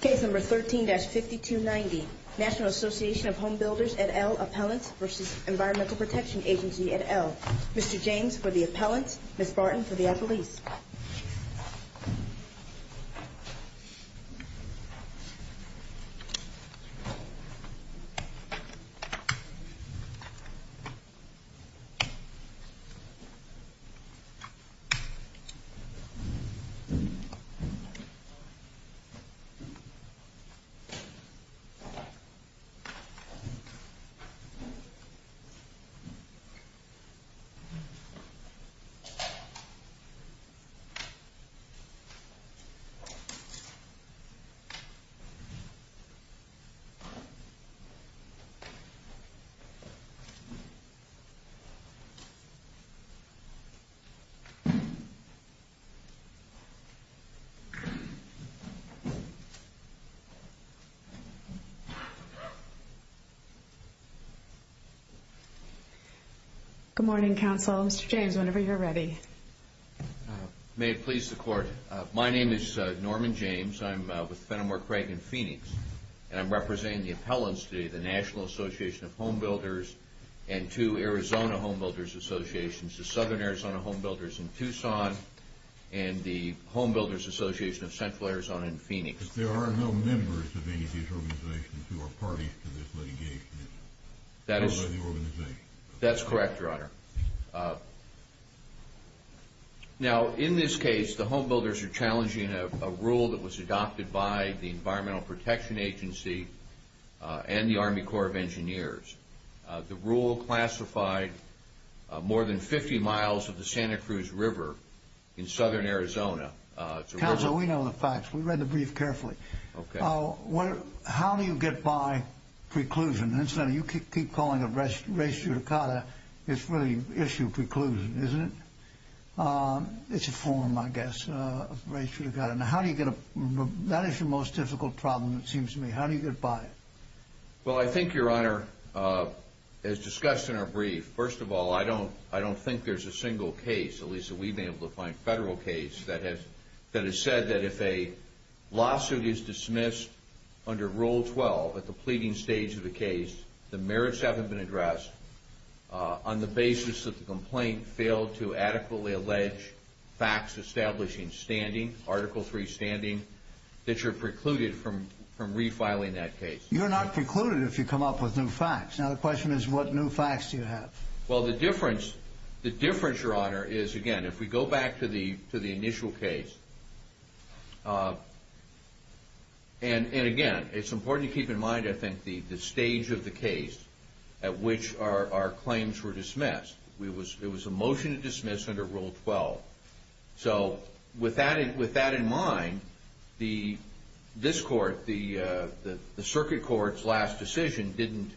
Case number 13-5290 National Association of Home Builders et al. Appellants v. Environmental Protection Agency et al. Mr. James for the appellants, Ms. Barton for the appellees. Mr. James for the appellants, Ms. Barton for the appellants. Good morning, counsel. Mr. James, whenever you're ready. May it please the court. My name is Norman James. I'm with Fenimore, Craig, and Phoenix. And I'm representing the appellants today, the National Association of Home Builders and two Arizona Home Builders Associations, the Southern Arizona Home Builders in Tucson and the Home Builders Association of Central Arizona in Phoenix. There are no members of any of these organizations who are parties to this litigation? That is correct, Your Honor. Now, in this case, the home builders are challenging a rule that was adopted by the Environmental Protection Agency and the Army Corps of Engineers. The rule classified more than 50 miles of the Santa Cruz River in Southern Arizona. Counsel, we know the facts. We read the brief carefully. Okay. How do you get by preclusion? Incidentally, you keep calling it res judicata. It's really issue preclusion, isn't it? It's a form, I guess, of res judicata. Now, how do you get a – that is your most difficult problem, it seems to me. How do you get by it? Well, I think, Your Honor, as discussed in our brief, first of all, I don't think there's a single case, at least that we've been able to find, federal case that has said that if a lawsuit is dismissed under Rule 12 at the pleading stage of the case, the merits haven't been addressed on the basis that the complaint failed to adequately allege facts establishing standing, Article III standing, that you're precluded from refiling that case. You're not precluded if you come up with new facts. Now, the question is, what new facts do you have? Well, the difference, Your Honor, is, again, if we go back to the initial case, and again, it's important to keep in mind, I think, the stage of the case at which our claims were dismissed. It was a motion to dismiss under Rule 12. So, with that in mind, this Court, the Circuit Court's last decision, didn't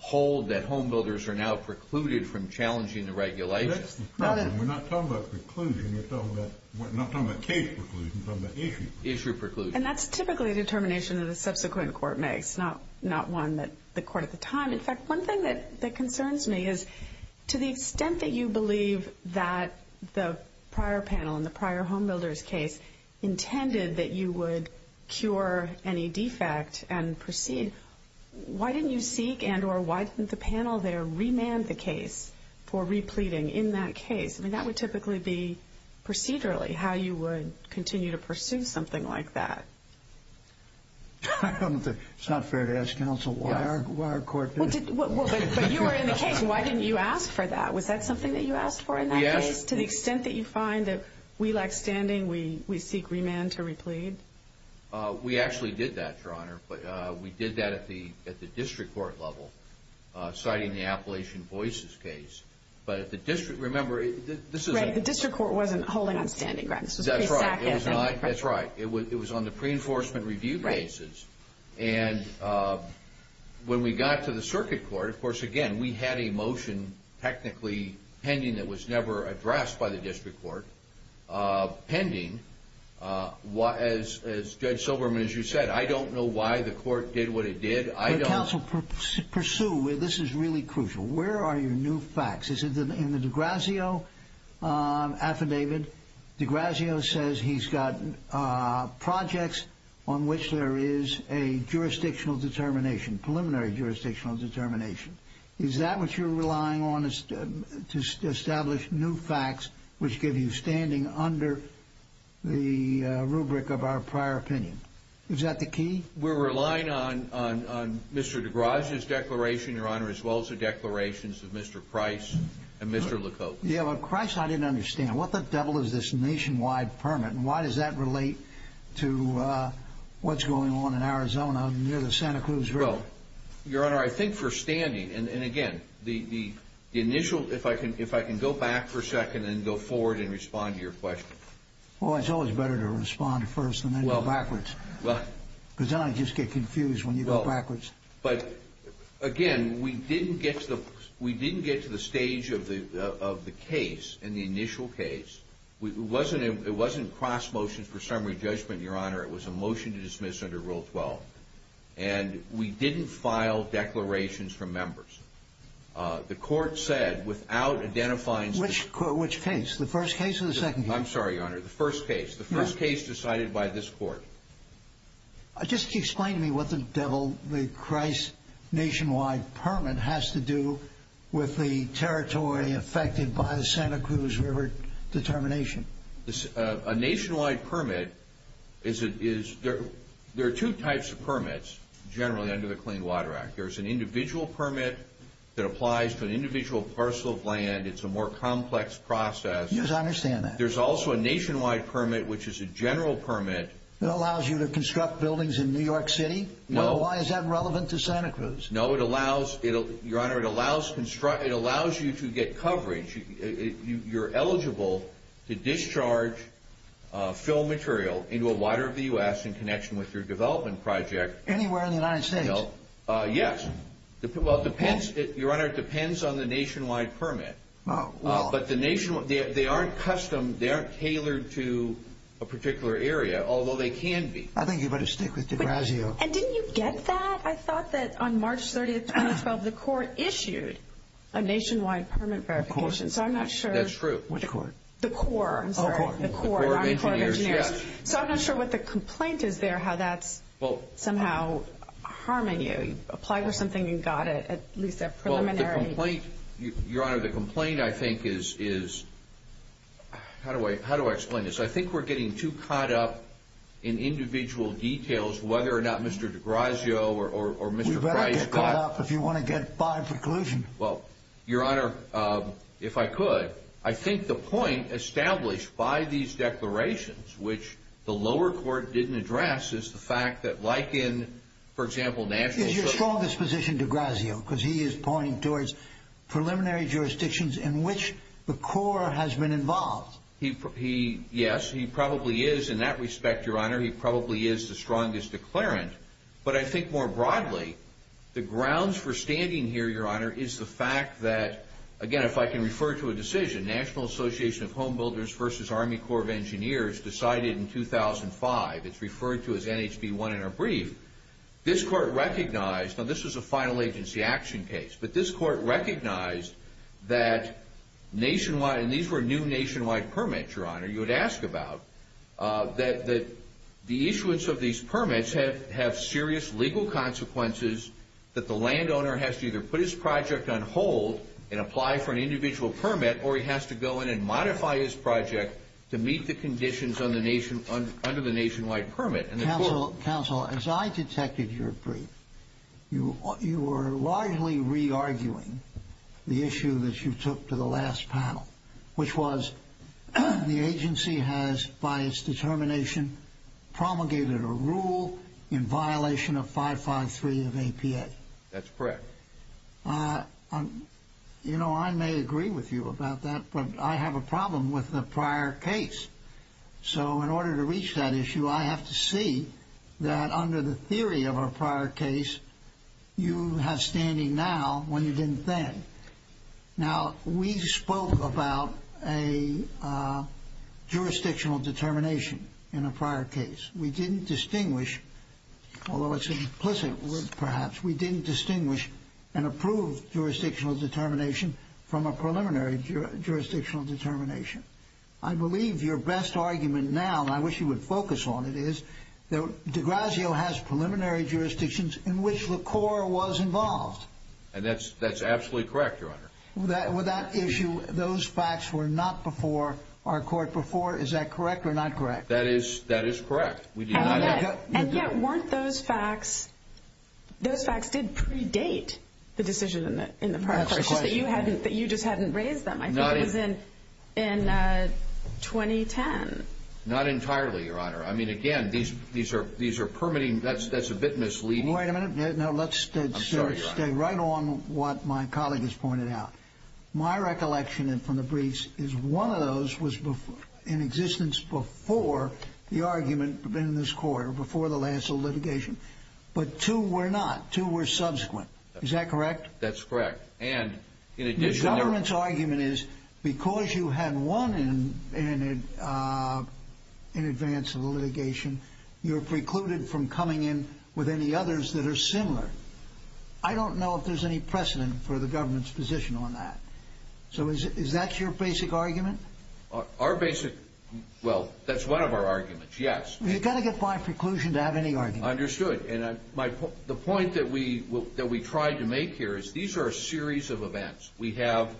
hold that homebuilders are now precluded from challenging the regulations. That's the problem. We're not talking about preclusion. We're talking about – we're not talking about case preclusion. We're talking about issue preclusion. Issue preclusion. And that's typically a determination that a subsequent court makes, not one that the court at the time. In fact, one thing that concerns me is, to the extent that you believe that the prior panel in the prior homebuilders case intended that you would cure any defect and proceed, why didn't you seek and or why didn't the panel there remand the case for repleading in that case? I mean, that would typically be procedurally how you would continue to pursue something like that. It's not fair to ask counsel what our court did. But you were in the case. Why didn't you ask for that? Was that something that you asked for in that case? Yes. To the extent that you find that we lack standing, we seek remand to replead? We actually did that, Your Honor. We did that at the district court level, citing the Appalachian Voices case. But at the district – remember, this is – Right. The district court wasn't holding on standing, right? That's right. It was on the pre-enforcement review basis. Right. And when we got to the circuit court, of course, again, we had a motion technically pending that was never addressed by the district court pending. As Judge Silberman, as you said, I don't know why the court did what it did. I don't – This is really crucial. Where are your new facts? In the DeGrazio affidavit, DeGrazio says he's got projects on which there is a jurisdictional determination, preliminary jurisdictional determination. Is that what you're relying on to establish new facts which give you standing under the rubric of our prior opinion? Is that the key? We're relying on Mr. DeGrazio's declaration, Your Honor, as well as the declarations of Mr. Price and Mr. LeCoultre. Yeah, but, Christ, I didn't understand. What the devil is this nationwide permit, and why does that relate to what's going on in Arizona near the Santa Cruz River? Well, Your Honor, I think for standing – and, again, the initial – if I can go back for a second and go forward and respond to your question. Well, it's always better to respond first and then go backwards, because then I just get confused when you go backwards. But, again, we didn't get to the stage of the case in the initial case. It wasn't cross-motion for summary judgment, Your Honor. It was a motion to dismiss under Rule 12, and we didn't file declarations from members. The court said, without identifying – I'm sorry, Your Honor, the first case. The first case decided by this court. Just explain to me what the devil the Christ nationwide permit has to do with the territory affected by the Santa Cruz River determination. A nationwide permit is – there are two types of permits, generally, under the Clean Water Act. There's an individual permit that applies to an individual parcel of land. It's a more complex process. Yes, I understand that. There's also a nationwide permit, which is a general permit. It allows you to construct buildings in New York City? No. Why is that relevant to Santa Cruz? No, it allows – Your Honor, it allows you to get coverage. You're eligible to discharge fill material into a water of the U.S. in connection with your development project. Anywhere in the United States? Yes. Well, it depends – Your Honor, it depends on the nationwide permit. But the nationwide – they aren't custom – they aren't tailored to a particular area, although they can be. I think you better stick with DeGrazio. And didn't you get that? I thought that on March 30, 2012, the court issued a nationwide permit verification. Of course. So I'm not sure – That's true. Which court? The Corps. I'm sorry. Oh, the Corps. The Corps of Engineers. Yes. So I'm not sure what the complaint is there, how that's somehow harming you. You applied for something, you got it, at least a preliminary – The complaint, Your Honor, the complaint I think is – how do I explain this? I think we're getting too caught up in individual details, whether or not Mr. DeGrazio or Mr. Price got – You better get caught up if you want to get by preclusion. Well, Your Honor, if I could, I think the point established by these declarations, which the lower court didn't address, is the fact that like in, for example, national – This is your strongest position, DeGrazio, because he is pointing towards preliminary jurisdictions in which the Corps has been involved. He – yes, he probably is in that respect, Your Honor, he probably is the strongest declarant. But I think more broadly, the grounds for standing here, Your Honor, is the fact that, again, if I can refer to a decision, National Association of Home Builders versus Army Corps of Engineers decided in 2005, it's referred to as NHB 1 in our brief, this court recognized – now this was a final agency action case – but this court recognized that nationwide – and these were new nationwide permits, Your Honor, you would ask about – that the issuance of these permits have serious legal consequences that the landowner has to either put his project on hold and apply for an individual permit, or he has to go in and modify his project to meet the conditions under the nationwide permit. Counsel, as I detected your brief, you were largely re-arguing the issue that you took to the last panel, which was the agency has, by its determination, promulgated a rule in violation of 553 of APA. That's correct. You know, I may agree with you about that, but I have a problem with the prior case. So, in order to reach that issue, I have to see that under the theory of a prior case, you have standing now when you didn't then. Now, we spoke about a jurisdictional determination in a prior case. We didn't distinguish – although it's an implicit word, perhaps – we didn't distinguish an approved jurisdictional determination from a preliminary jurisdictional determination. I believe your best argument now, and I wish you would focus on it, is that DeGrazio has preliminary jurisdictions in which LaCour was involved. And that's absolutely correct, Your Honor. With that issue, those facts were not before our court before. Is that correct or not correct? That is correct. And yet, weren't those facts – those facts did predate the decision in the prior case, just that you just hadn't raised them. I think it was in 2010. Not entirely, Your Honor. I mean, again, these are permitting – that's a bit misleading. Wait a minute. No, let's stay right on what my colleague has pointed out. My recollection from the briefs is one of those was in existence before the argument in this court, or before the Lancel litigation. But two were not. Two were subsequent. Is that correct? That's correct. And in addition – The government's argument is because you had one in advance of the litigation, you're precluded from coming in with any others that are similar. I don't know if there's any precedent for the government's position on that. So is that your basic argument? Our basic – well, that's one of our arguments, yes. You've got to get by preclusion to have any argument. Understood. And the point that we tried to make here is these are a series of events. We have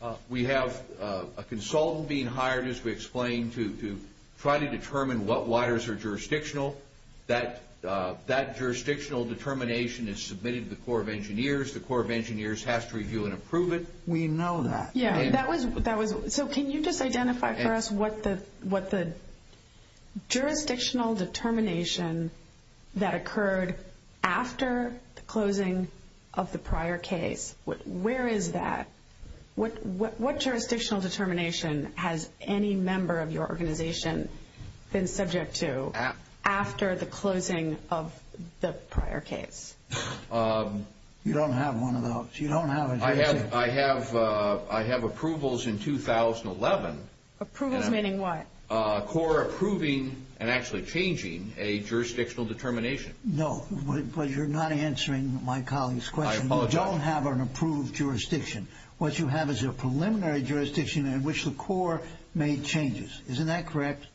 a consultant being hired, as we explained, to try to determine what waters are jurisdictional. That jurisdictional determination is submitted to the Corps of Engineers. The Corps of Engineers has to review and approve it. We know that. So can you just identify for us what the jurisdictional determination that occurred after the closing of the prior case – where is that? What jurisdictional determination has any member of your organization been subject to after the closing of the prior case? You don't have one of those. You don't have a jurisdiction. I have approvals in 2011. Approvals meaning what? Corps approving and actually changing a jurisdictional determination. No, but you're not answering my colleague's question. I apologize. You don't have an approved jurisdiction. What you have is a preliminary jurisdiction in which the Corps made changes. Isn't that correct?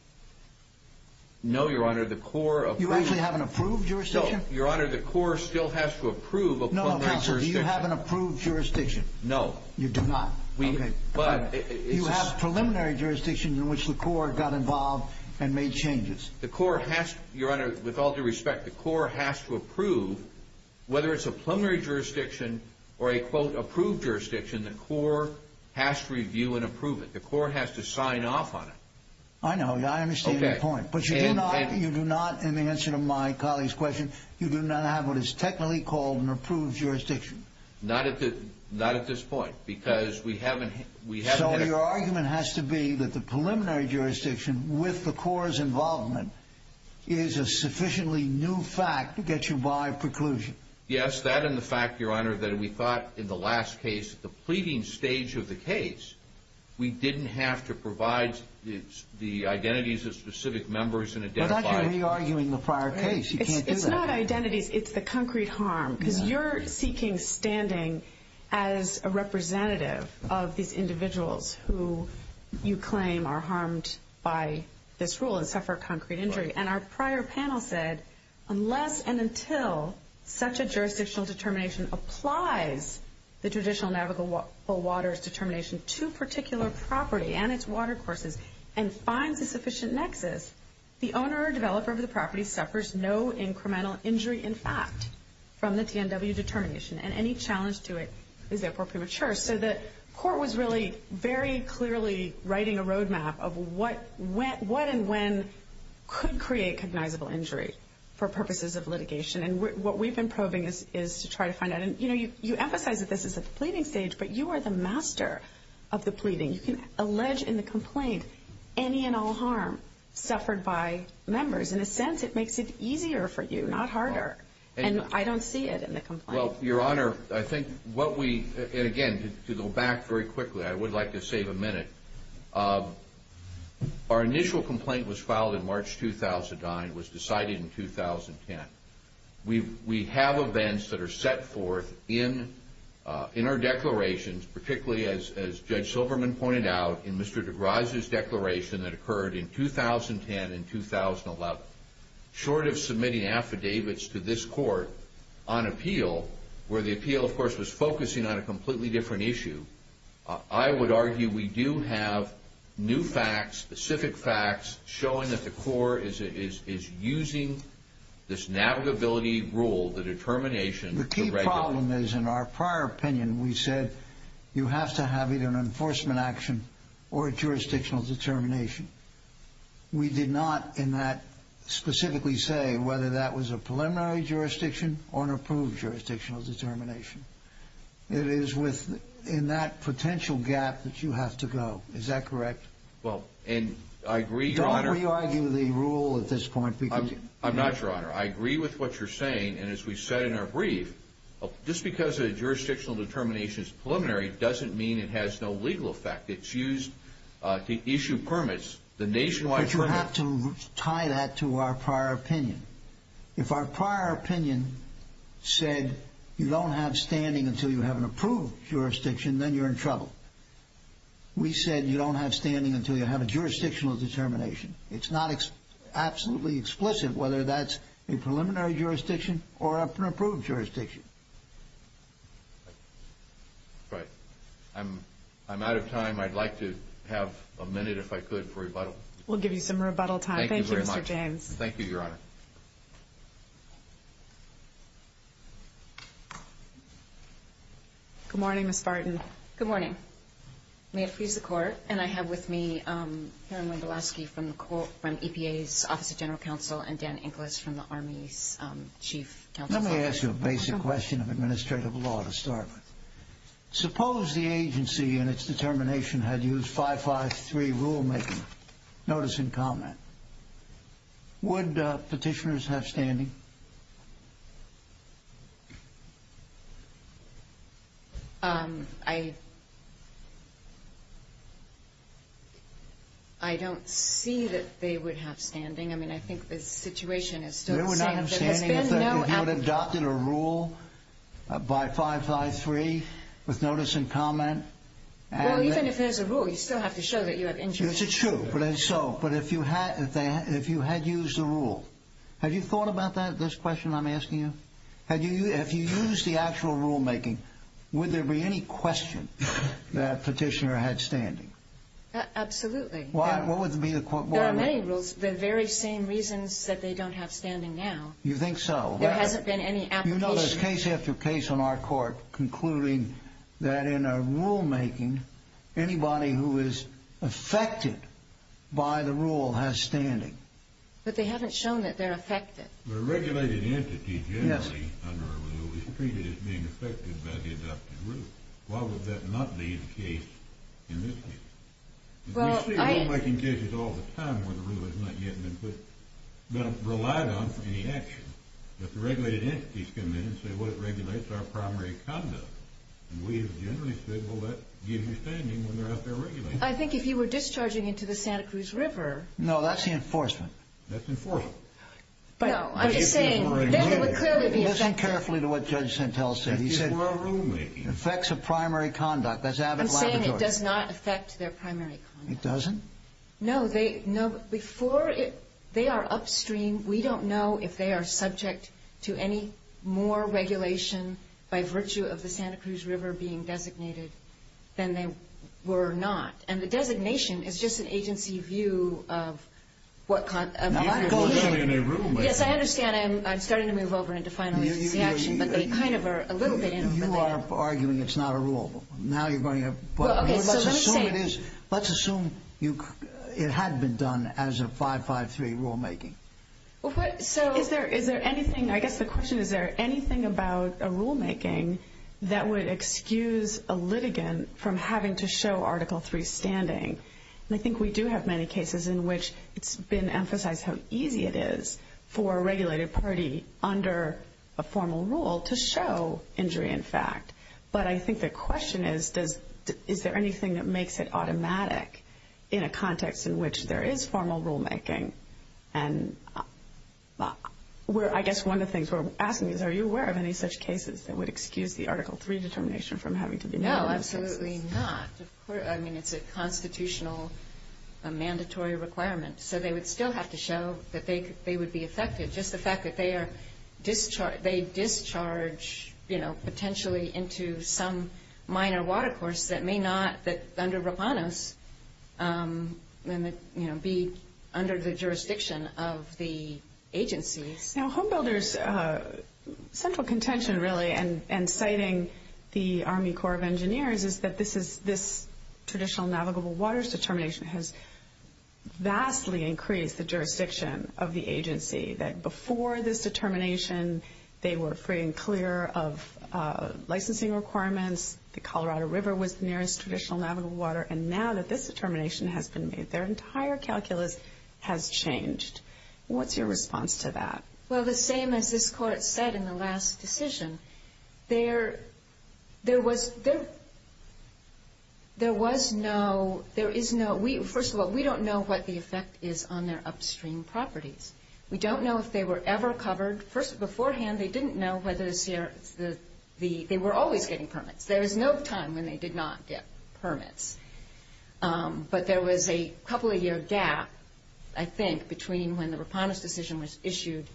No, Your Honor, the Corps – You actually have an approved jurisdiction? No, Your Honor, the Corps still has to approve a preliminary jurisdiction. Do you have an approved jurisdiction? No. You do not. Okay, but – You have preliminary jurisdiction in which the Corps got involved and made changes. The Corps has to – Your Honor, with all due respect, the Corps has to approve – whether it's a preliminary jurisdiction or a, quote, approved jurisdiction, the Corps has to review and approve it. The Corps has to sign off on it. I know. I understand your point. But you do not, in the answer to my colleague's question, you do not have what is technically called an approved jurisdiction. Not at this point because we haven't – So your argument has to be that the preliminary jurisdiction with the Corps' involvement is a sufficiently new fact to get you by preclusion. Yes, that and the fact, Your Honor, that we thought in the last case at the pleading stage of the case we didn't have to provide the identities of specific members and identify – We're not going to be arguing the prior case. You can't do that. It's not identities. It's the concrete harm. Because you're seeking standing as a representative of these individuals who you claim are harmed by this rule and suffer concrete injury. And our prior panel said unless and until such a jurisdictional determination applies the traditional navigable waters determination to a particular property and its watercourses and finds a sufficient nexus, the owner or developer of the property suffers no incremental injury, in fact, from the TNW determination. And any challenge to it is therefore premature. So the court was really very clearly writing a roadmap of what and when could create cognizable injury for purposes of litigation. And what we've been probing is to try to find out. And you emphasize that this is at the pleading stage, but you are the master of the pleading. You can allege in the complaint any and all harm suffered by members. In a sense, it makes it easier for you, not harder. And I don't see it in the complaint. Well, Your Honor, I think what we, and again, to go back very quickly, I would like to save a minute. Our initial complaint was filed in March 2009, was decided in 2010. We have events that are set forth in our declarations, particularly as Judge Silverman pointed out in Mr. DeGrasse's declaration that occurred in 2010 and 2011. Short of submitting affidavits to this court on appeal, where the appeal, of course, was focusing on a completely different issue, I would argue we do have new facts, specific facts, showing that the court is using this navigability rule, the determination. The key problem is, in our prior opinion, we said you have to have either an enforcement action or a jurisdictional determination. We did not in that specifically say whether that was a preliminary jurisdiction or an approved jurisdictional determination. It is within that potential gap that you have to go. Is that correct? Well, and I agree, Your Honor. Don't re-argue the rule at this point. I'm not, Your Honor. I agree with what you're saying, and as we said in our brief, just because a jurisdictional determination is preliminary doesn't mean it has no legal effect. It's used to issue permits, the nationwide permits. But you have to tie that to our prior opinion. If our prior opinion said you don't have standing until you have an approved jurisdiction, then you're in trouble. We said you don't have standing until you have a jurisdictional determination. It's not absolutely explicit whether that's a preliminary jurisdiction or an approved jurisdiction. Thank you. All right. I'm out of time. I'd like to have a minute, if I could, for rebuttal. We'll give you some rebuttal time. Thank you very much. Thank you, Mr. James. Thank you, Your Honor. Good morning, Ms. Barton. Good morning. May it please the Court, and I have with me Karen Wendolasky from EPA's Office of General Counsel and Dan Inglis from the Army's Chief Counsel. Let me ask you a basic question of administrative law to start with. Suppose the agency in its determination had used 553 rulemaking. Notice and comment. Would petitioners have standing? I don't see that they would have standing. He would have adopted a rule by 553 with notice and comment. Well, even if there's a rule, you still have to show that you have interest. Yes, it's true, but if you had used the rule. Have you thought about that, this question I'm asking you? If you used the actual rulemaking, would there be any question that a petitioner had standing? Absolutely. There are many rules, the very same reasons that they don't have standing now. You think so? There hasn't been any application. You know, there's case after case on our Court concluding that in a rulemaking, anybody who is affected by the rule has standing. But they haven't shown that they're affected. But a regulated entity generally under a rule is treated as being affected by the adopted rule. Why would that not be the case in this case? We see rulemaking cases all the time where the rule has not yet been relied on for any action. But the regulated entities come in and say, well, it regulates our primary conduct. And we have generally said, well, that gives you standing when they're out there regulating. I think if you were discharging into the Santa Cruz River. No, that's the enforcement. That's enforcement. No, I'm just saying, then it would clearly be affected. Listen carefully to what Judge Santel said. He said, it affects the primary conduct. I'm saying it does not affect their primary conduct. It doesn't? No. Before they are upstream, we don't know if they are subject to any more regulation by virtue of the Santa Cruz River being designated than they were not. And the designation is just an agency view of what kind of behavior. Yes, I understand. I'm starting to move over into final agency action, but they kind of are a little bit in for that. You are arguing it's not a rule. Let's assume it is. Let's assume it had been done as a 553 rulemaking. I guess the question is, is there anything about a rulemaking that would excuse a litigant from having to show Article III standing? And I think we do have many cases in which it's been emphasized how easy it is for a regulated party under a formal rule to show injury in fact. But I think the question is, is there anything that makes it automatic in a context in which there is formal rulemaking? And I guess one of the things we're asking is, are you aware of any such cases that would excuse the Article III determination from having to be made? No, absolutely not. I mean, it's a constitutional, a mandatory requirement. So they would still have to show that they would be affected, just the fact that they discharge, you know, potentially into some minor water course that may not, under ROPANOS, be under the jurisdiction of the agencies. Now, HomeBuilder's central contention, really, and citing the Army Corps of Engineers, is that this traditional navigable waters determination has vastly increased the jurisdiction of the agency. That before this determination, they were free and clear of licensing requirements. The Colorado River was the nearest traditional navigable water. And now that this determination has been made, their entire calculus has changed. What's your response to that? Well, the same as this Court said in the last decision, there was no – there is no – first of all, we don't know what the effect is on their upstream properties. We don't know if they were ever covered. First, beforehand, they didn't know whether the – they were always getting permits. There was no time when they did not get permits. But there was a couple-year gap, I think, between when the ROPANOS decision was issued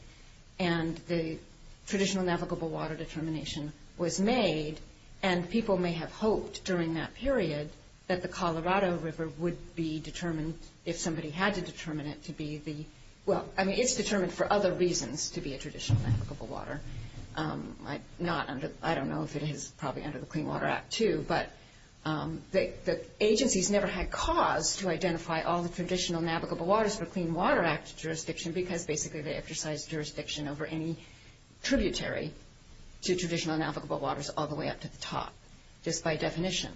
and the traditional navigable water determination was made. And people may have hoped during that period that the Colorado River would be determined, if somebody had to determine it, to be the – well, I mean, it's determined for other reasons to be a traditional navigable water. Not under – I don't know if it is probably under the Clean Water Act too, but the agencies never had cause to identify all the traditional navigable waters for Clean Water Act jurisdiction because basically they exercise jurisdiction over any tributary to traditional navigable waters all the way up to the top, just by definition.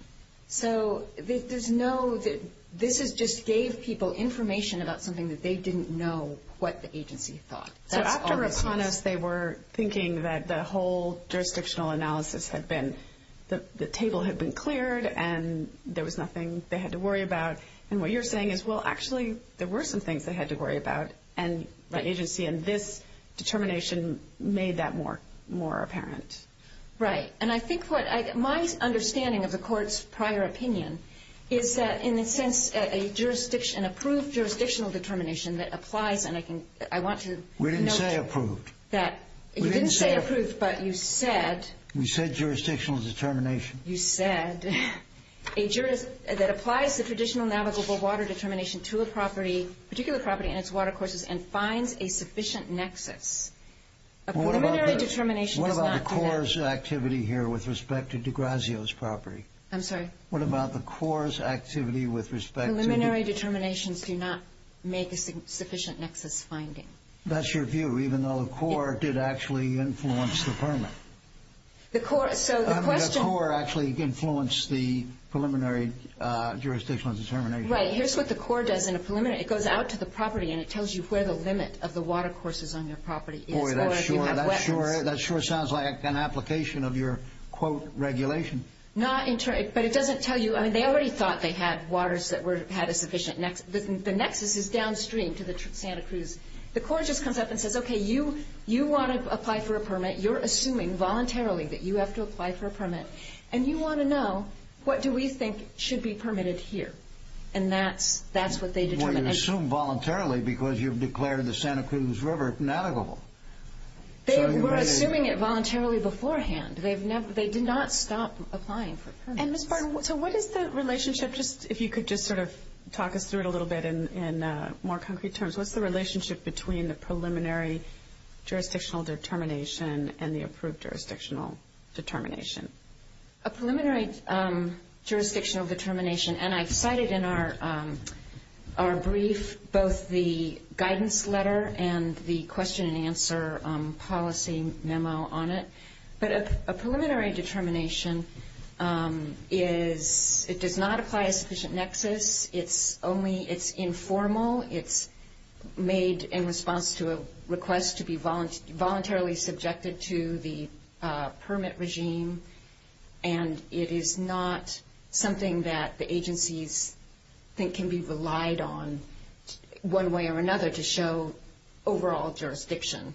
So there's no – this just gave people information about something that they didn't know what the agency thought. So after ROPANOS, they were thinking that the whole jurisdictional analysis had been – the table had been cleared and there was nothing they had to worry about. And what you're saying is, well, actually, there were some things they had to worry about. And the agency in this determination made that more apparent. Right. And I think what – my understanding of the Court's prior opinion is that, in a sense, an approved jurisdictional determination that applies – and I want to – We didn't say approved. You didn't say approved, but you said – We said jurisdictional determination. You said that applies the traditional navigable water determination to a property, a particular property and its watercourses, and finds a sufficient nexus. A preliminary determination does not do that. What about the Corps' activity here with respect to de Grazio's property? I'm sorry? What about the Corps' activity with respect to – Preliminary determinations do not make a sufficient nexus finding. That's your view, even though the Corps did actually influence the permit. The Corps – so the question – I mean, the Corps actually influenced the preliminary jurisdictional determination. Right. Here's what the Corps does in a preliminary – it goes out to the property and it tells you where the limit of the watercourses on your property is, or if you have wetlands. Boy, that sure – that sure sounds like an application of your, quote, regulation. Not – but it doesn't tell you – I mean, they already thought they had waters that had a sufficient nexus. The nexus is downstream to the Santa Cruz. The Corps just comes up and says, okay, you want to apply for a permit. You're assuming voluntarily that you have to apply for a permit, and you want to know what do we think should be permitted here, and that's what they determine. Well, you assume voluntarily because you've declared the Santa Cruz River navigable. They were assuming it voluntarily beforehand. They did not stop applying for permits. And, Ms. Barton, so what is the relationship – if you could just sort of talk us through it a little bit in more concrete terms. What's the relationship between the preliminary jurisdictional determination and the approved jurisdictional determination? A preliminary jurisdictional determination – and I've cited in our brief both the guidance letter and the question and answer policy memo on it. But a preliminary determination is – it does not apply a sufficient nexus. It's only – it's informal. It's made in response to a request to be voluntarily subjected to the permit regime, and it is not something that the agencies think can be relied on one way or another to show overall jurisdiction.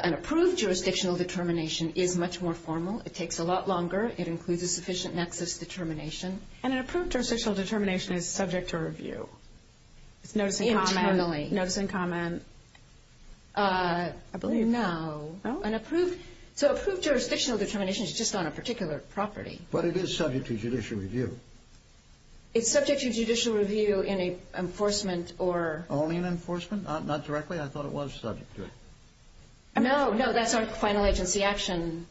An approved jurisdictional determination is much more formal. It takes a lot longer. It includes a sufficient nexus determination. And an approved jurisdictional determination is subject to review. It's notice and comment only. Notice and comment. I believe – No. No? So approved jurisdictional determination is just on a particular property. But it is subject to judicial review. It's subject to judicial review in an enforcement or – No. No, that's our final agency action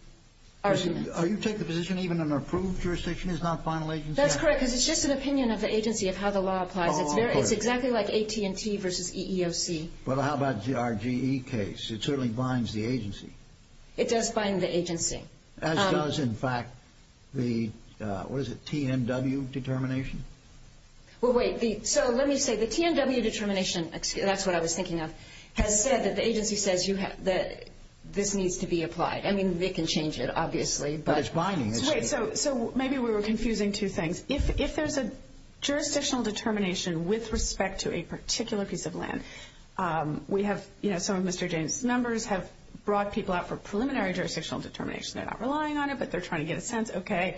argument. You take the position even an approved jurisdiction is not final agency? That's correct, because it's just an opinion of the agency of how the law applies. It's exactly like AT&T versus EEOC. Well, how about the RGE case? It certainly binds the agency. It does bind the agency. As does, in fact, the – what is it – TNW determination? Well, wait. So let me say the TNW determination – that's what I was thinking of – has said that the agency says this needs to be applied. I mean, they can change it, obviously. But it's binding. Wait. So maybe we were confusing two things. If there's a jurisdictional determination with respect to a particular piece of land, we have – you know, some of Mr. James' numbers have brought people out for preliminary jurisdictional determination. They're not relying on it, but they're trying to get a sense, okay,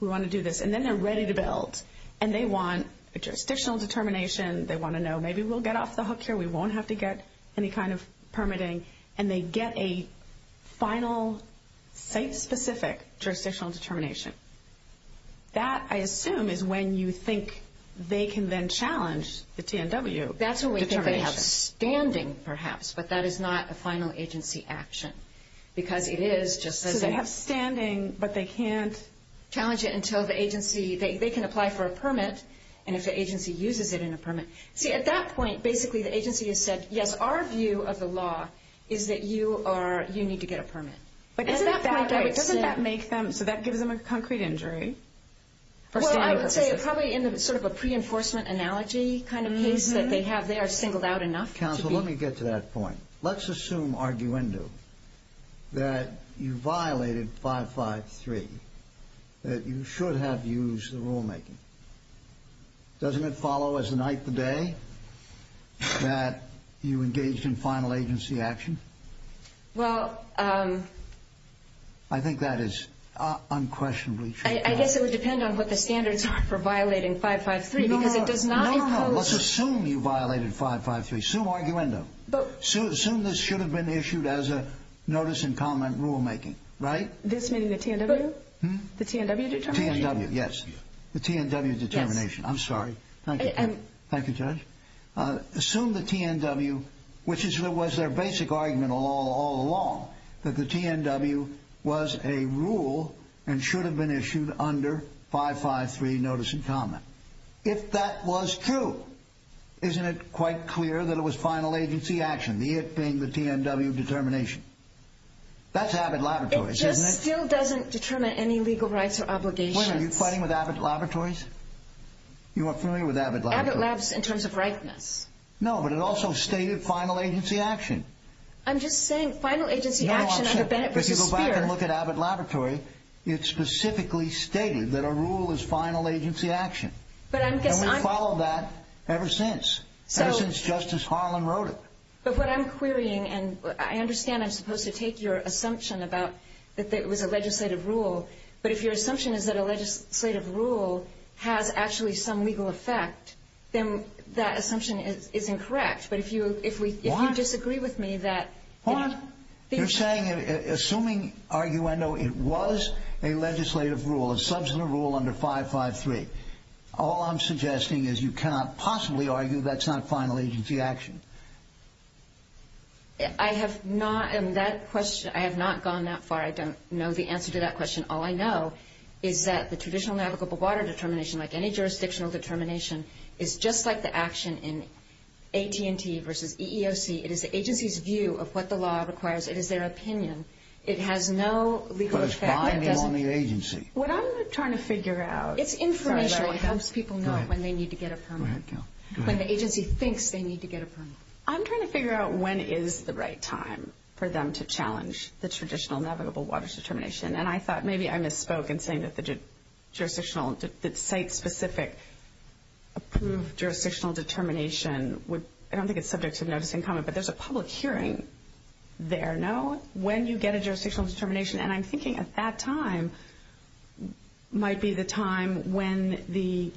we want to do this. And then they're ready to build. And they want a jurisdictional determination. They want to know maybe we'll get off the hook here. We won't have to get any kind of permitting. And they get a final, site-specific jurisdictional determination. That, I assume, is when you think they can then challenge the TNW determination. That's when we think they have a standing, perhaps, but that is not a final agency action. Because it is just as a – So they have standing, but they can't – Challenge it until the agency – they can apply for a permit. And if the agency uses it in a permit – See, at that point, basically, the agency has said, yes, our view of the law is that you are – you need to get a permit. But isn't that – At that point, I would say – Doesn't that make them – so that gives them a concrete injury for standing purposes? Well, I would say probably in sort of a pre-enforcement analogy kind of case that they have, they are singled out enough to be – Counsel, let me get to that point. Let's assume, arguendo, that you violated 553, that you should have used the rulemaking. Doesn't it follow as the night, the day that you engaged in final agency action? Well – I think that is unquestionably true. I guess it would depend on what the standards are for violating 553, because it does not impose – No, no. Let's assume you violated 553. Assume arguendo. Assume this should have been issued as a notice and comment rulemaking, right? This meeting the TNW? Hmm? The TNW determination? The TNW, yes. The TNW determination. I'm sorry. Thank you. Thank you, Judge. Assume the TNW, which was their basic argument all along, that the TNW was a rule and should have been issued under 553 notice and comment. If that was true, isn't it quite clear that it was final agency action, the it being the TNW determination? That's Abbott Laboratories, isn't it? It still doesn't determine any legal rights or obligations. Wait a minute. Are you fighting with Abbott Laboratories? You aren't familiar with Abbott Laboratories? Abbott Labs in terms of rightness. No, but it also stated final agency action. I'm just saying, final agency action under Bennett v. Speer – No, I'm saying, if you go back and look at Abbott Laboratories, it specifically stated that a rule is final agency action. But I guess I'm – And we've followed that ever since. Ever since Justice Harlan wrote it. But what I'm querying, and I understand I'm supposed to take your assumption about that it was a legislative rule, but if your assumption is that a legislative rule has actually some legal effect, then that assumption is incorrect. But if you disagree with me that – Hold on. You're saying, assuming, arguendo, it was a legislative rule, a substantive rule under 553, all I'm suggesting is you cannot possibly argue that's not final agency action. I have not – and that question – I have not gone that far. I don't know the answer to that question. All I know is that the traditional navigable water determination, like any jurisdictional determination, is just like the action in AT&T v. EEOC. It is the agency's view of what the law requires. It is their opinion. It has no legal effect. But it's binding on the agency. What I'm trying to figure out – It's informational. It helps people know when they need to get a permit. When the agency thinks they need to get a permit. I'm trying to figure out when is the right time for them to challenge the traditional navigable water determination. And I thought maybe I misspoke in saying that the site-specific approved jurisdictional determination would – I don't think it's subject to notice and comment, but there's a public hearing there, no? When you get a jurisdictional determination – and I'm thinking at that time might be the time when the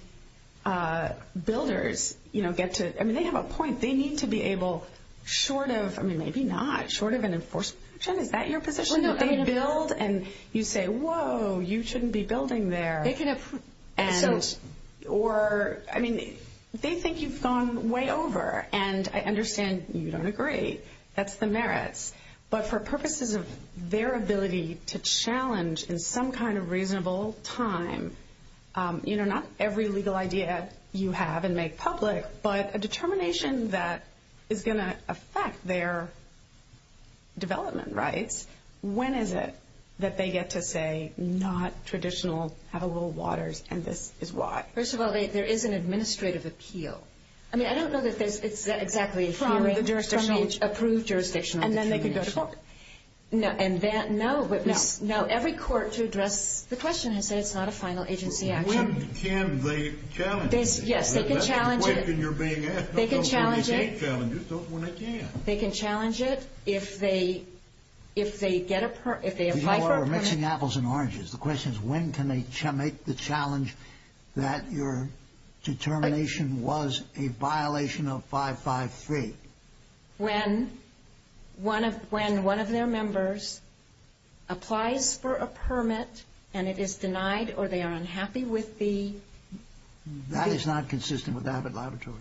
builders get to – I mean, they have a point. They need to be able, short of – I mean, maybe not. Short of an enforcement. Jen, is that your position? That they build and you say, whoa, you shouldn't be building there? They can approve. And so – Or – I mean, they think you've gone way over. And I understand you don't agree. That's the merits. But for purposes of their ability to challenge in some kind of reasonable time, you know, not every legal idea you have and make public, but a determination that is going to affect their development rights, when is it that they get to say not traditional navigable waters and this is why? First of all, there is an administrative appeal. I mean, I don't know that there's – it's exactly a hearing from the approved jurisdictional determination. And then they can go to court. No. And that – no. No. Every court to address the question has said it's not a final agency action. Can they challenge it? Yes, they can challenge it. That's the question you're being asked. They can challenge it. No, don't say they can't challenge it. Don't say they can't. They can challenge it if they get a – if they apply for a permit. You know, we're mixing apples and oranges. The question is when can they make the challenge that your determination was a violation of 553? When? When one of their members applies for a permit and it is denied or they are unhappy with the – That is not consistent with Abbott Laboratories.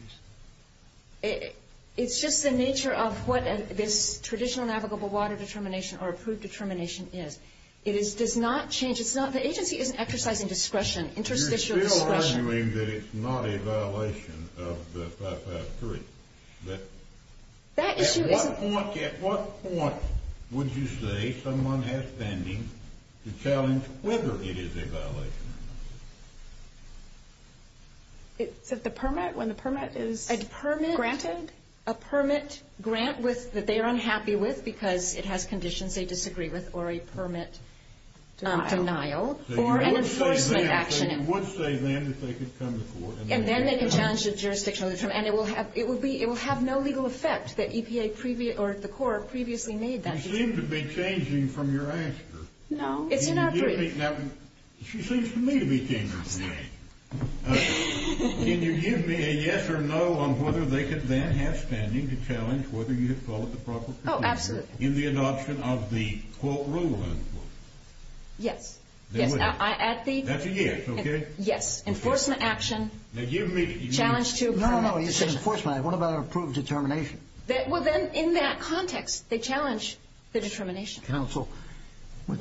It's just the nature of what this traditional navigable water determination or approved determination is. It does not change – it's not – the agency isn't exercising discretion, interstitial discretion. You're still arguing that it's not a violation of the 553. That issue isn't – At what point – at what point would you say someone has pending to challenge whether it is a violation of the 553? Is it the permit? When the permit is granted? A permit – a permit grant with – that they are unhappy with because it has conditions they disagree with or a permit – Denial. Or an enforcement action. So you would say then – so you would say then that they could come to court and – And then they can challenge the jurisdictional determination. And it will have – it will be – it will have no legal effect that EPA or the court previously made that decision. You seem to be changing from your answer. No. It's in our brief. She seems to me to be changing. Can you give me a yes or no on whether they could then have standing to challenge whether you had followed the proper procedure? Oh, absolutely. In the adoption of the, quote, rule, unquote. Yes. Yes. That's a yes, okay? Yes. Yes. Enforcement action. Now, give me – Challenge to a permit decision. No, no, no. You said enforcement. What about an approved determination? Well, then, in that context, they challenge the determination. Counsel,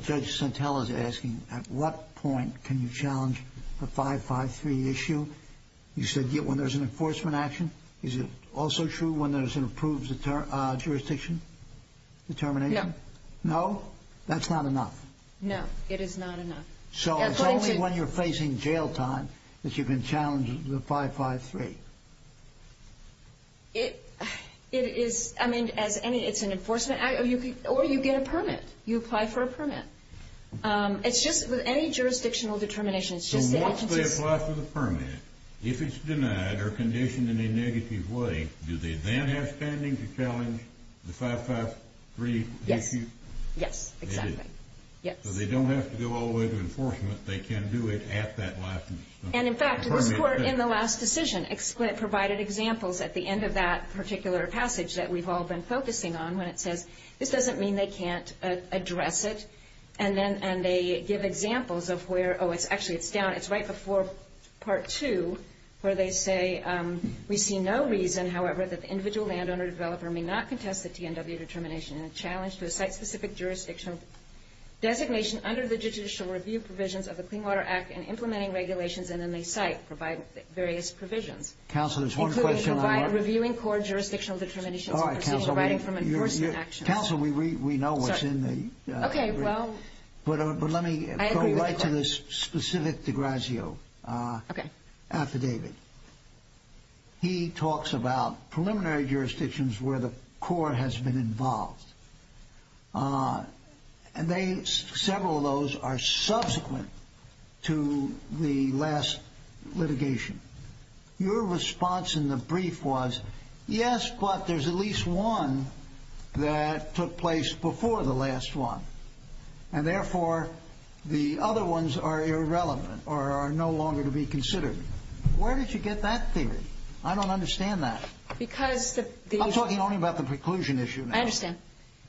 Judge Santella is asking at what point can you challenge the 553 issue? You said when there's an enforcement action. Is it also true when there's an approved jurisdiction determination? No. No? That's not enough. No. It is not enough. So it's only when you're facing jail time that you can challenge the 553. It is – I mean, as any – it's an enforcement – or you get a permit. You apply for a permit. It's just with any jurisdictional determination, it's just the agency's – So once they apply for the permit, if it's denied or conditioned in a negative way, do they then have standing to challenge the 553 issue? Yes. Yes, exactly. Yes. So they don't have to go all the way to enforcement. They can do it at that last – And, in fact, this court in the last decision provided examples at the end of that particular passage that we've all been focusing on when it says this doesn't mean they can't address it. And then – and they give examples of where – oh, it's actually – it's down – it's right before Part 2 where they say we see no reason, however, that the individual landowner developer may not contest the T&W determination and a challenge to a site-specific jurisdictional designation under the judicial review provisions of the Clean Water Act and implementing regulations in any site provide various provisions. Counsel, there's one question on our – Including reviewing core jurisdictional determinations and proceeding – All right, counsel, we – Providing from enforcement actions. Counsel, we know what's in the – Sorry. Okay, well – But let me – I agree with the court. Go right to this specific de grazio affidavit. He talks about preliminary jurisdictions where the court has been involved. And they – several of those are subsequent to the last litigation. Your response in the brief was, yes, but there's at least one that took place before the last one. And, therefore, the other ones are irrelevant or are no longer to be considered. Where did you get that theory? I don't understand that. Because the – I'm talking only about the preclusion issue now. I understand.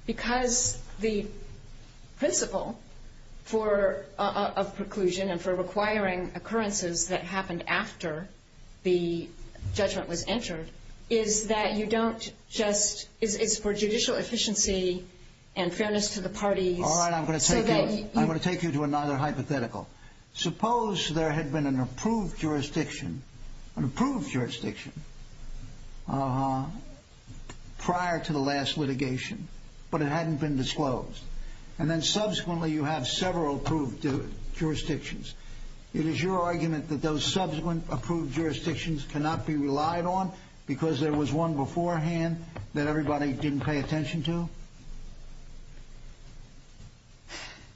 Because the principle for a preclusion and for requiring occurrences that happened after the judgment was entered is that you don't just – it's for judicial efficiency and fairness to the parties. All right, I'm going to take you to another hypothetical. Suppose there had been an approved jurisdiction – an approved jurisdiction prior to the last litigation, but it hadn't been disclosed. And then, subsequently, you have several approved jurisdictions. It is your argument that those subsequent approved jurisdictions cannot be relied on because there was one beforehand that everybody didn't pay attention to?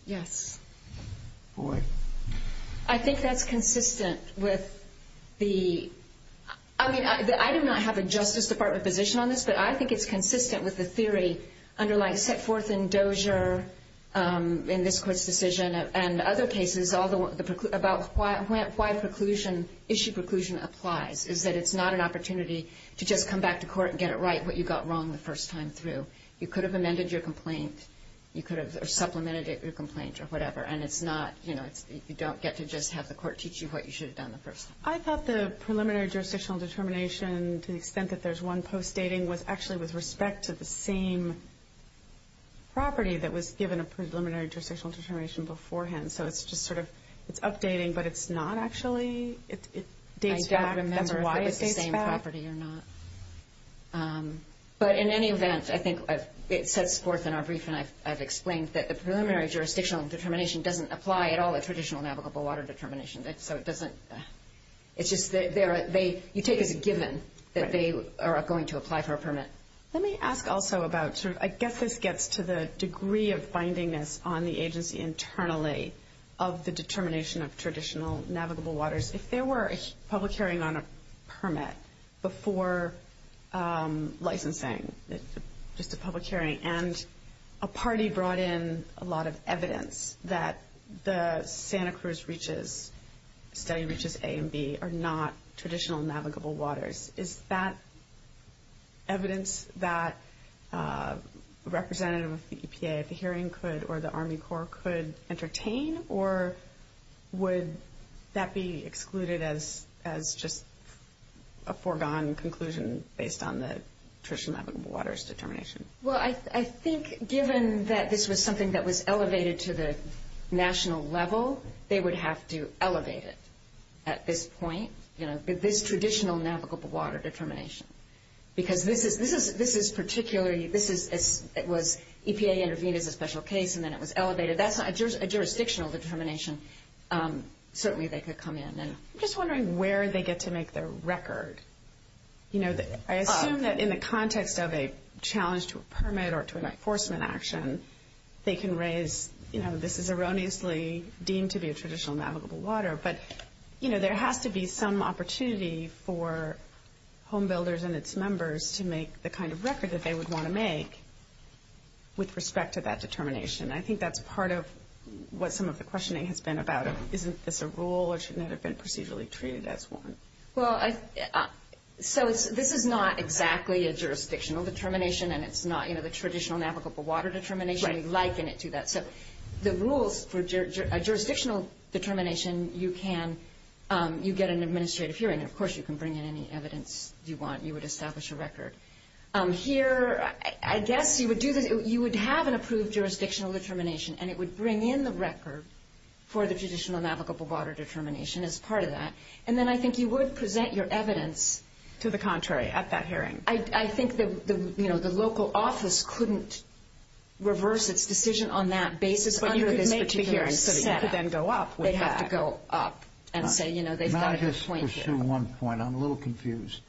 Yes. Boy. I think that's consistent with the – I mean, I do not have a Justice Department position on this, but I think it's consistent with the theory underlying set forth in Dozier in this Court's decision and other cases about why preclusion – issue preclusion applies, is that it's not an opportunity to just come back to court and get it right, what you got wrong the first time through. You could have amended your complaint. You could have supplemented your complaint or whatever. And it's not – you know, you don't get to just have the court teach you what you should have done the first time. I thought the preliminary jurisdictional determination, to the extent that there's one post-dating, was actually with respect to the same property that was given a preliminary jurisdictional determination beforehand. So it's just sort of – it's updating, but it's not actually – it dates back. I don't remember if it was the same property or not. But in any event, I think it sets forth in our brief, and I've explained that the preliminary jurisdictional determination doesn't apply at all at traditional navigable water determination. So it doesn't – it's just – you take as a given that they are going to apply for a permit. Let me ask also about – I guess this gets to the degree of bindingness on the agency internally of the determination of traditional navigable waters. If there were a public hearing on a permit before licensing, just a public hearing, and a party brought in a lot of evidence that the Santa Cruz reaches – study reaches A and B are not traditional navigable waters, is that evidence that a representative of the EPA at the hearing could or the Army Corps could entertain, or would that be excluded as just a foregone conclusion based on the traditional navigable waters determination? Well, I think given that this was something that was elevated to the national level, they would have to elevate it at this point, you know, this traditional navigable water determination. Because this is particularly – it was EPA intervened as a special case, and then it was elevated. That's a jurisdictional determination. Certainly they could come in. I'm just wondering where they get to make their record. You know, I assume that in the context of a challenge to a permit or to an enforcement action, they can raise, you know, this is erroneously deemed to be a traditional navigable water, but, you know, there has to be some opportunity for home builders and its members to make the kind of record that they would want to make with respect to that determination. I think that's part of what some of the questioning has been about. Isn't this a rule or shouldn't it have been procedurally treated as one? Well, so this is not exactly a jurisdictional determination, and it's not, you know, the traditional navigable water determination. We liken it to that. So the rules for a jurisdictional determination, you get an administrative hearing, and, of course, you can bring in any evidence you want, and you would establish a record. Here, I guess you would have an approved jurisdictional determination, and it would bring in the record for the traditional navigable water determination as part of that, and then I think you would present your evidence to the contrary at that hearing. I think that, you know, the local office couldn't reverse its decision on that basis under this particular setting. But you could make the hearing so that you could then go up with that. They'd have to go up and say, you know, they've got a good point here. May I just pursue one point? I'm a little confused.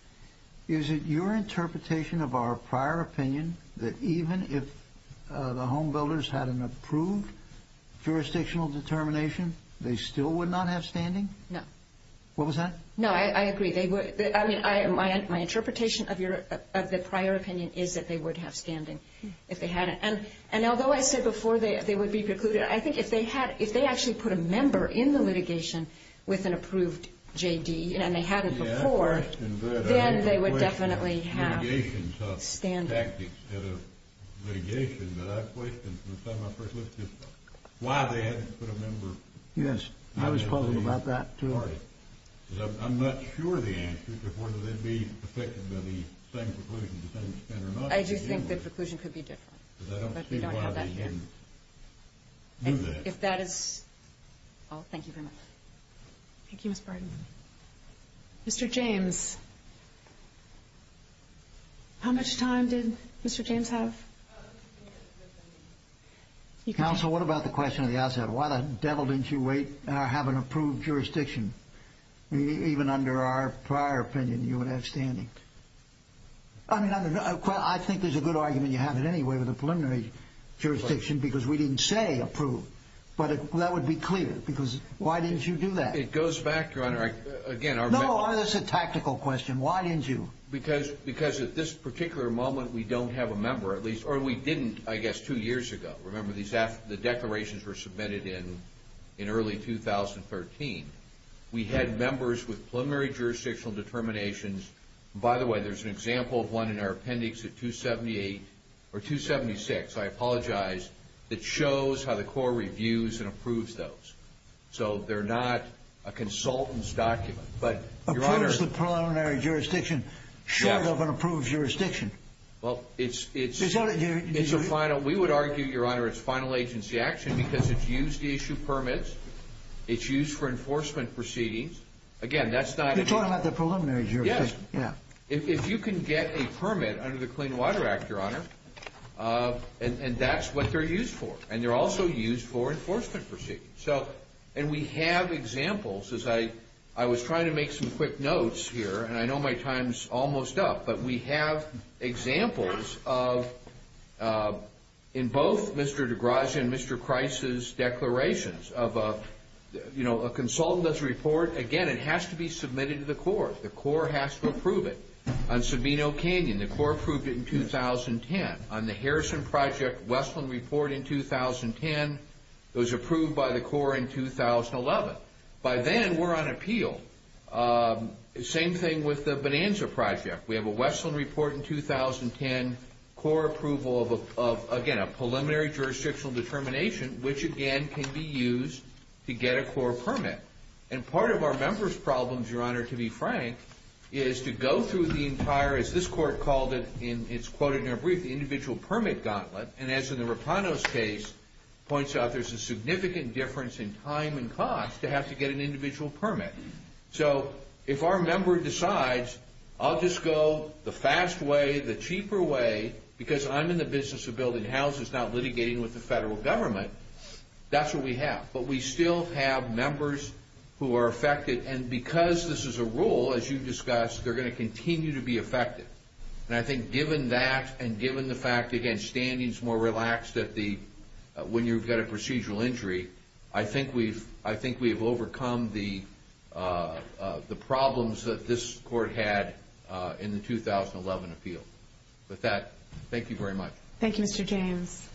Is it your interpretation of our prior opinion that even if the home builders had an approved jurisdictional determination, they still would not have standing? No. What was that? No, I agree. I mean, my interpretation of the prior opinion is that they would have standing if they had it. And although I said before they would be precluded, I think if they actually put a member in the litigation with an approved J.D. and they had it before, then they would definitely have standing. I'm not sure the answer to whether they'd be affected by the same preclusion to the same extent or not. I do think the preclusion could be different. But we don't have that here. If that is all, thank you very much. Thank you, Mr. Bridenstine. Mr. James. How much time did Mr. James have? Counsel, what about the question at the outset? Why the devil didn't you have an approved jurisdiction even under our prior opinion you would have standing? I mean, I think there's a good argument you have it anyway with a preliminary jurisdiction because we didn't say approved. But that would be clear because why didn't you do that? It goes back, Your Honor. No, that's a tactical question. Why didn't you? Because at this particular moment we don't have a member, or we didn't, I guess, two years ago. Remember, the declarations were submitted in early 2013. We had members with preliminary jurisdictional determinations. By the way, there's an example of one in our appendix at 278 or 276, I apologize, that shows how the Corps reviews and approves those. So they're not a consultant's document. Approves the preliminary jurisdiction short of an approved jurisdiction. Well, it's a final. We would argue, Your Honor, it's final agency action because it's used to issue permits. It's used for enforcement proceedings. Again, that's not. You're talking about the preliminary jurisdiction. Yes. If you can get a permit under the Clean Water Act, Your Honor, and that's what they're used for. And they're also used for enforcement proceedings. And we have examples. I was trying to make some quick notes here, and I know my time's almost up. But we have examples of, in both Mr. DeGrazia and Mr. Christ's declarations, of a consultant's report. Again, it has to be submitted to the Corps. The Corps has to approve it. On Sabino Canyon, the Corps approved it in 2010. On the Harrison Project, Westland Report in 2010. It was approved by the Corps in 2011. By then, we're on appeal. Same thing with the Bonanza Project. We have a Westland Report in 2010, Corps approval of, again, a preliminary jurisdictional determination, which, again, can be used to get a Corps permit. And part of our members' problems, Your Honor, to be frank, is to go through the entire, as this Court called it, and it's quoted in our brief, the individual permit gauntlet. And as in the Rapanos case points out, there's a significant difference in time and cost to have to get an individual permit. So if our member decides, I'll just go the fast way, the cheaper way, because I'm in the business of building houses, not litigating with the federal government, that's what we have. But we still have members who are affected. And because this is a rule, as you've discussed, they're going to continue to be affected. And I think given that and given the fact, again, standing is more relaxed when you've got a procedural injury, I think we've overcome the problems that this Court had in the 2011 appeal. With that, thank you very much. Thank you, Mr. James.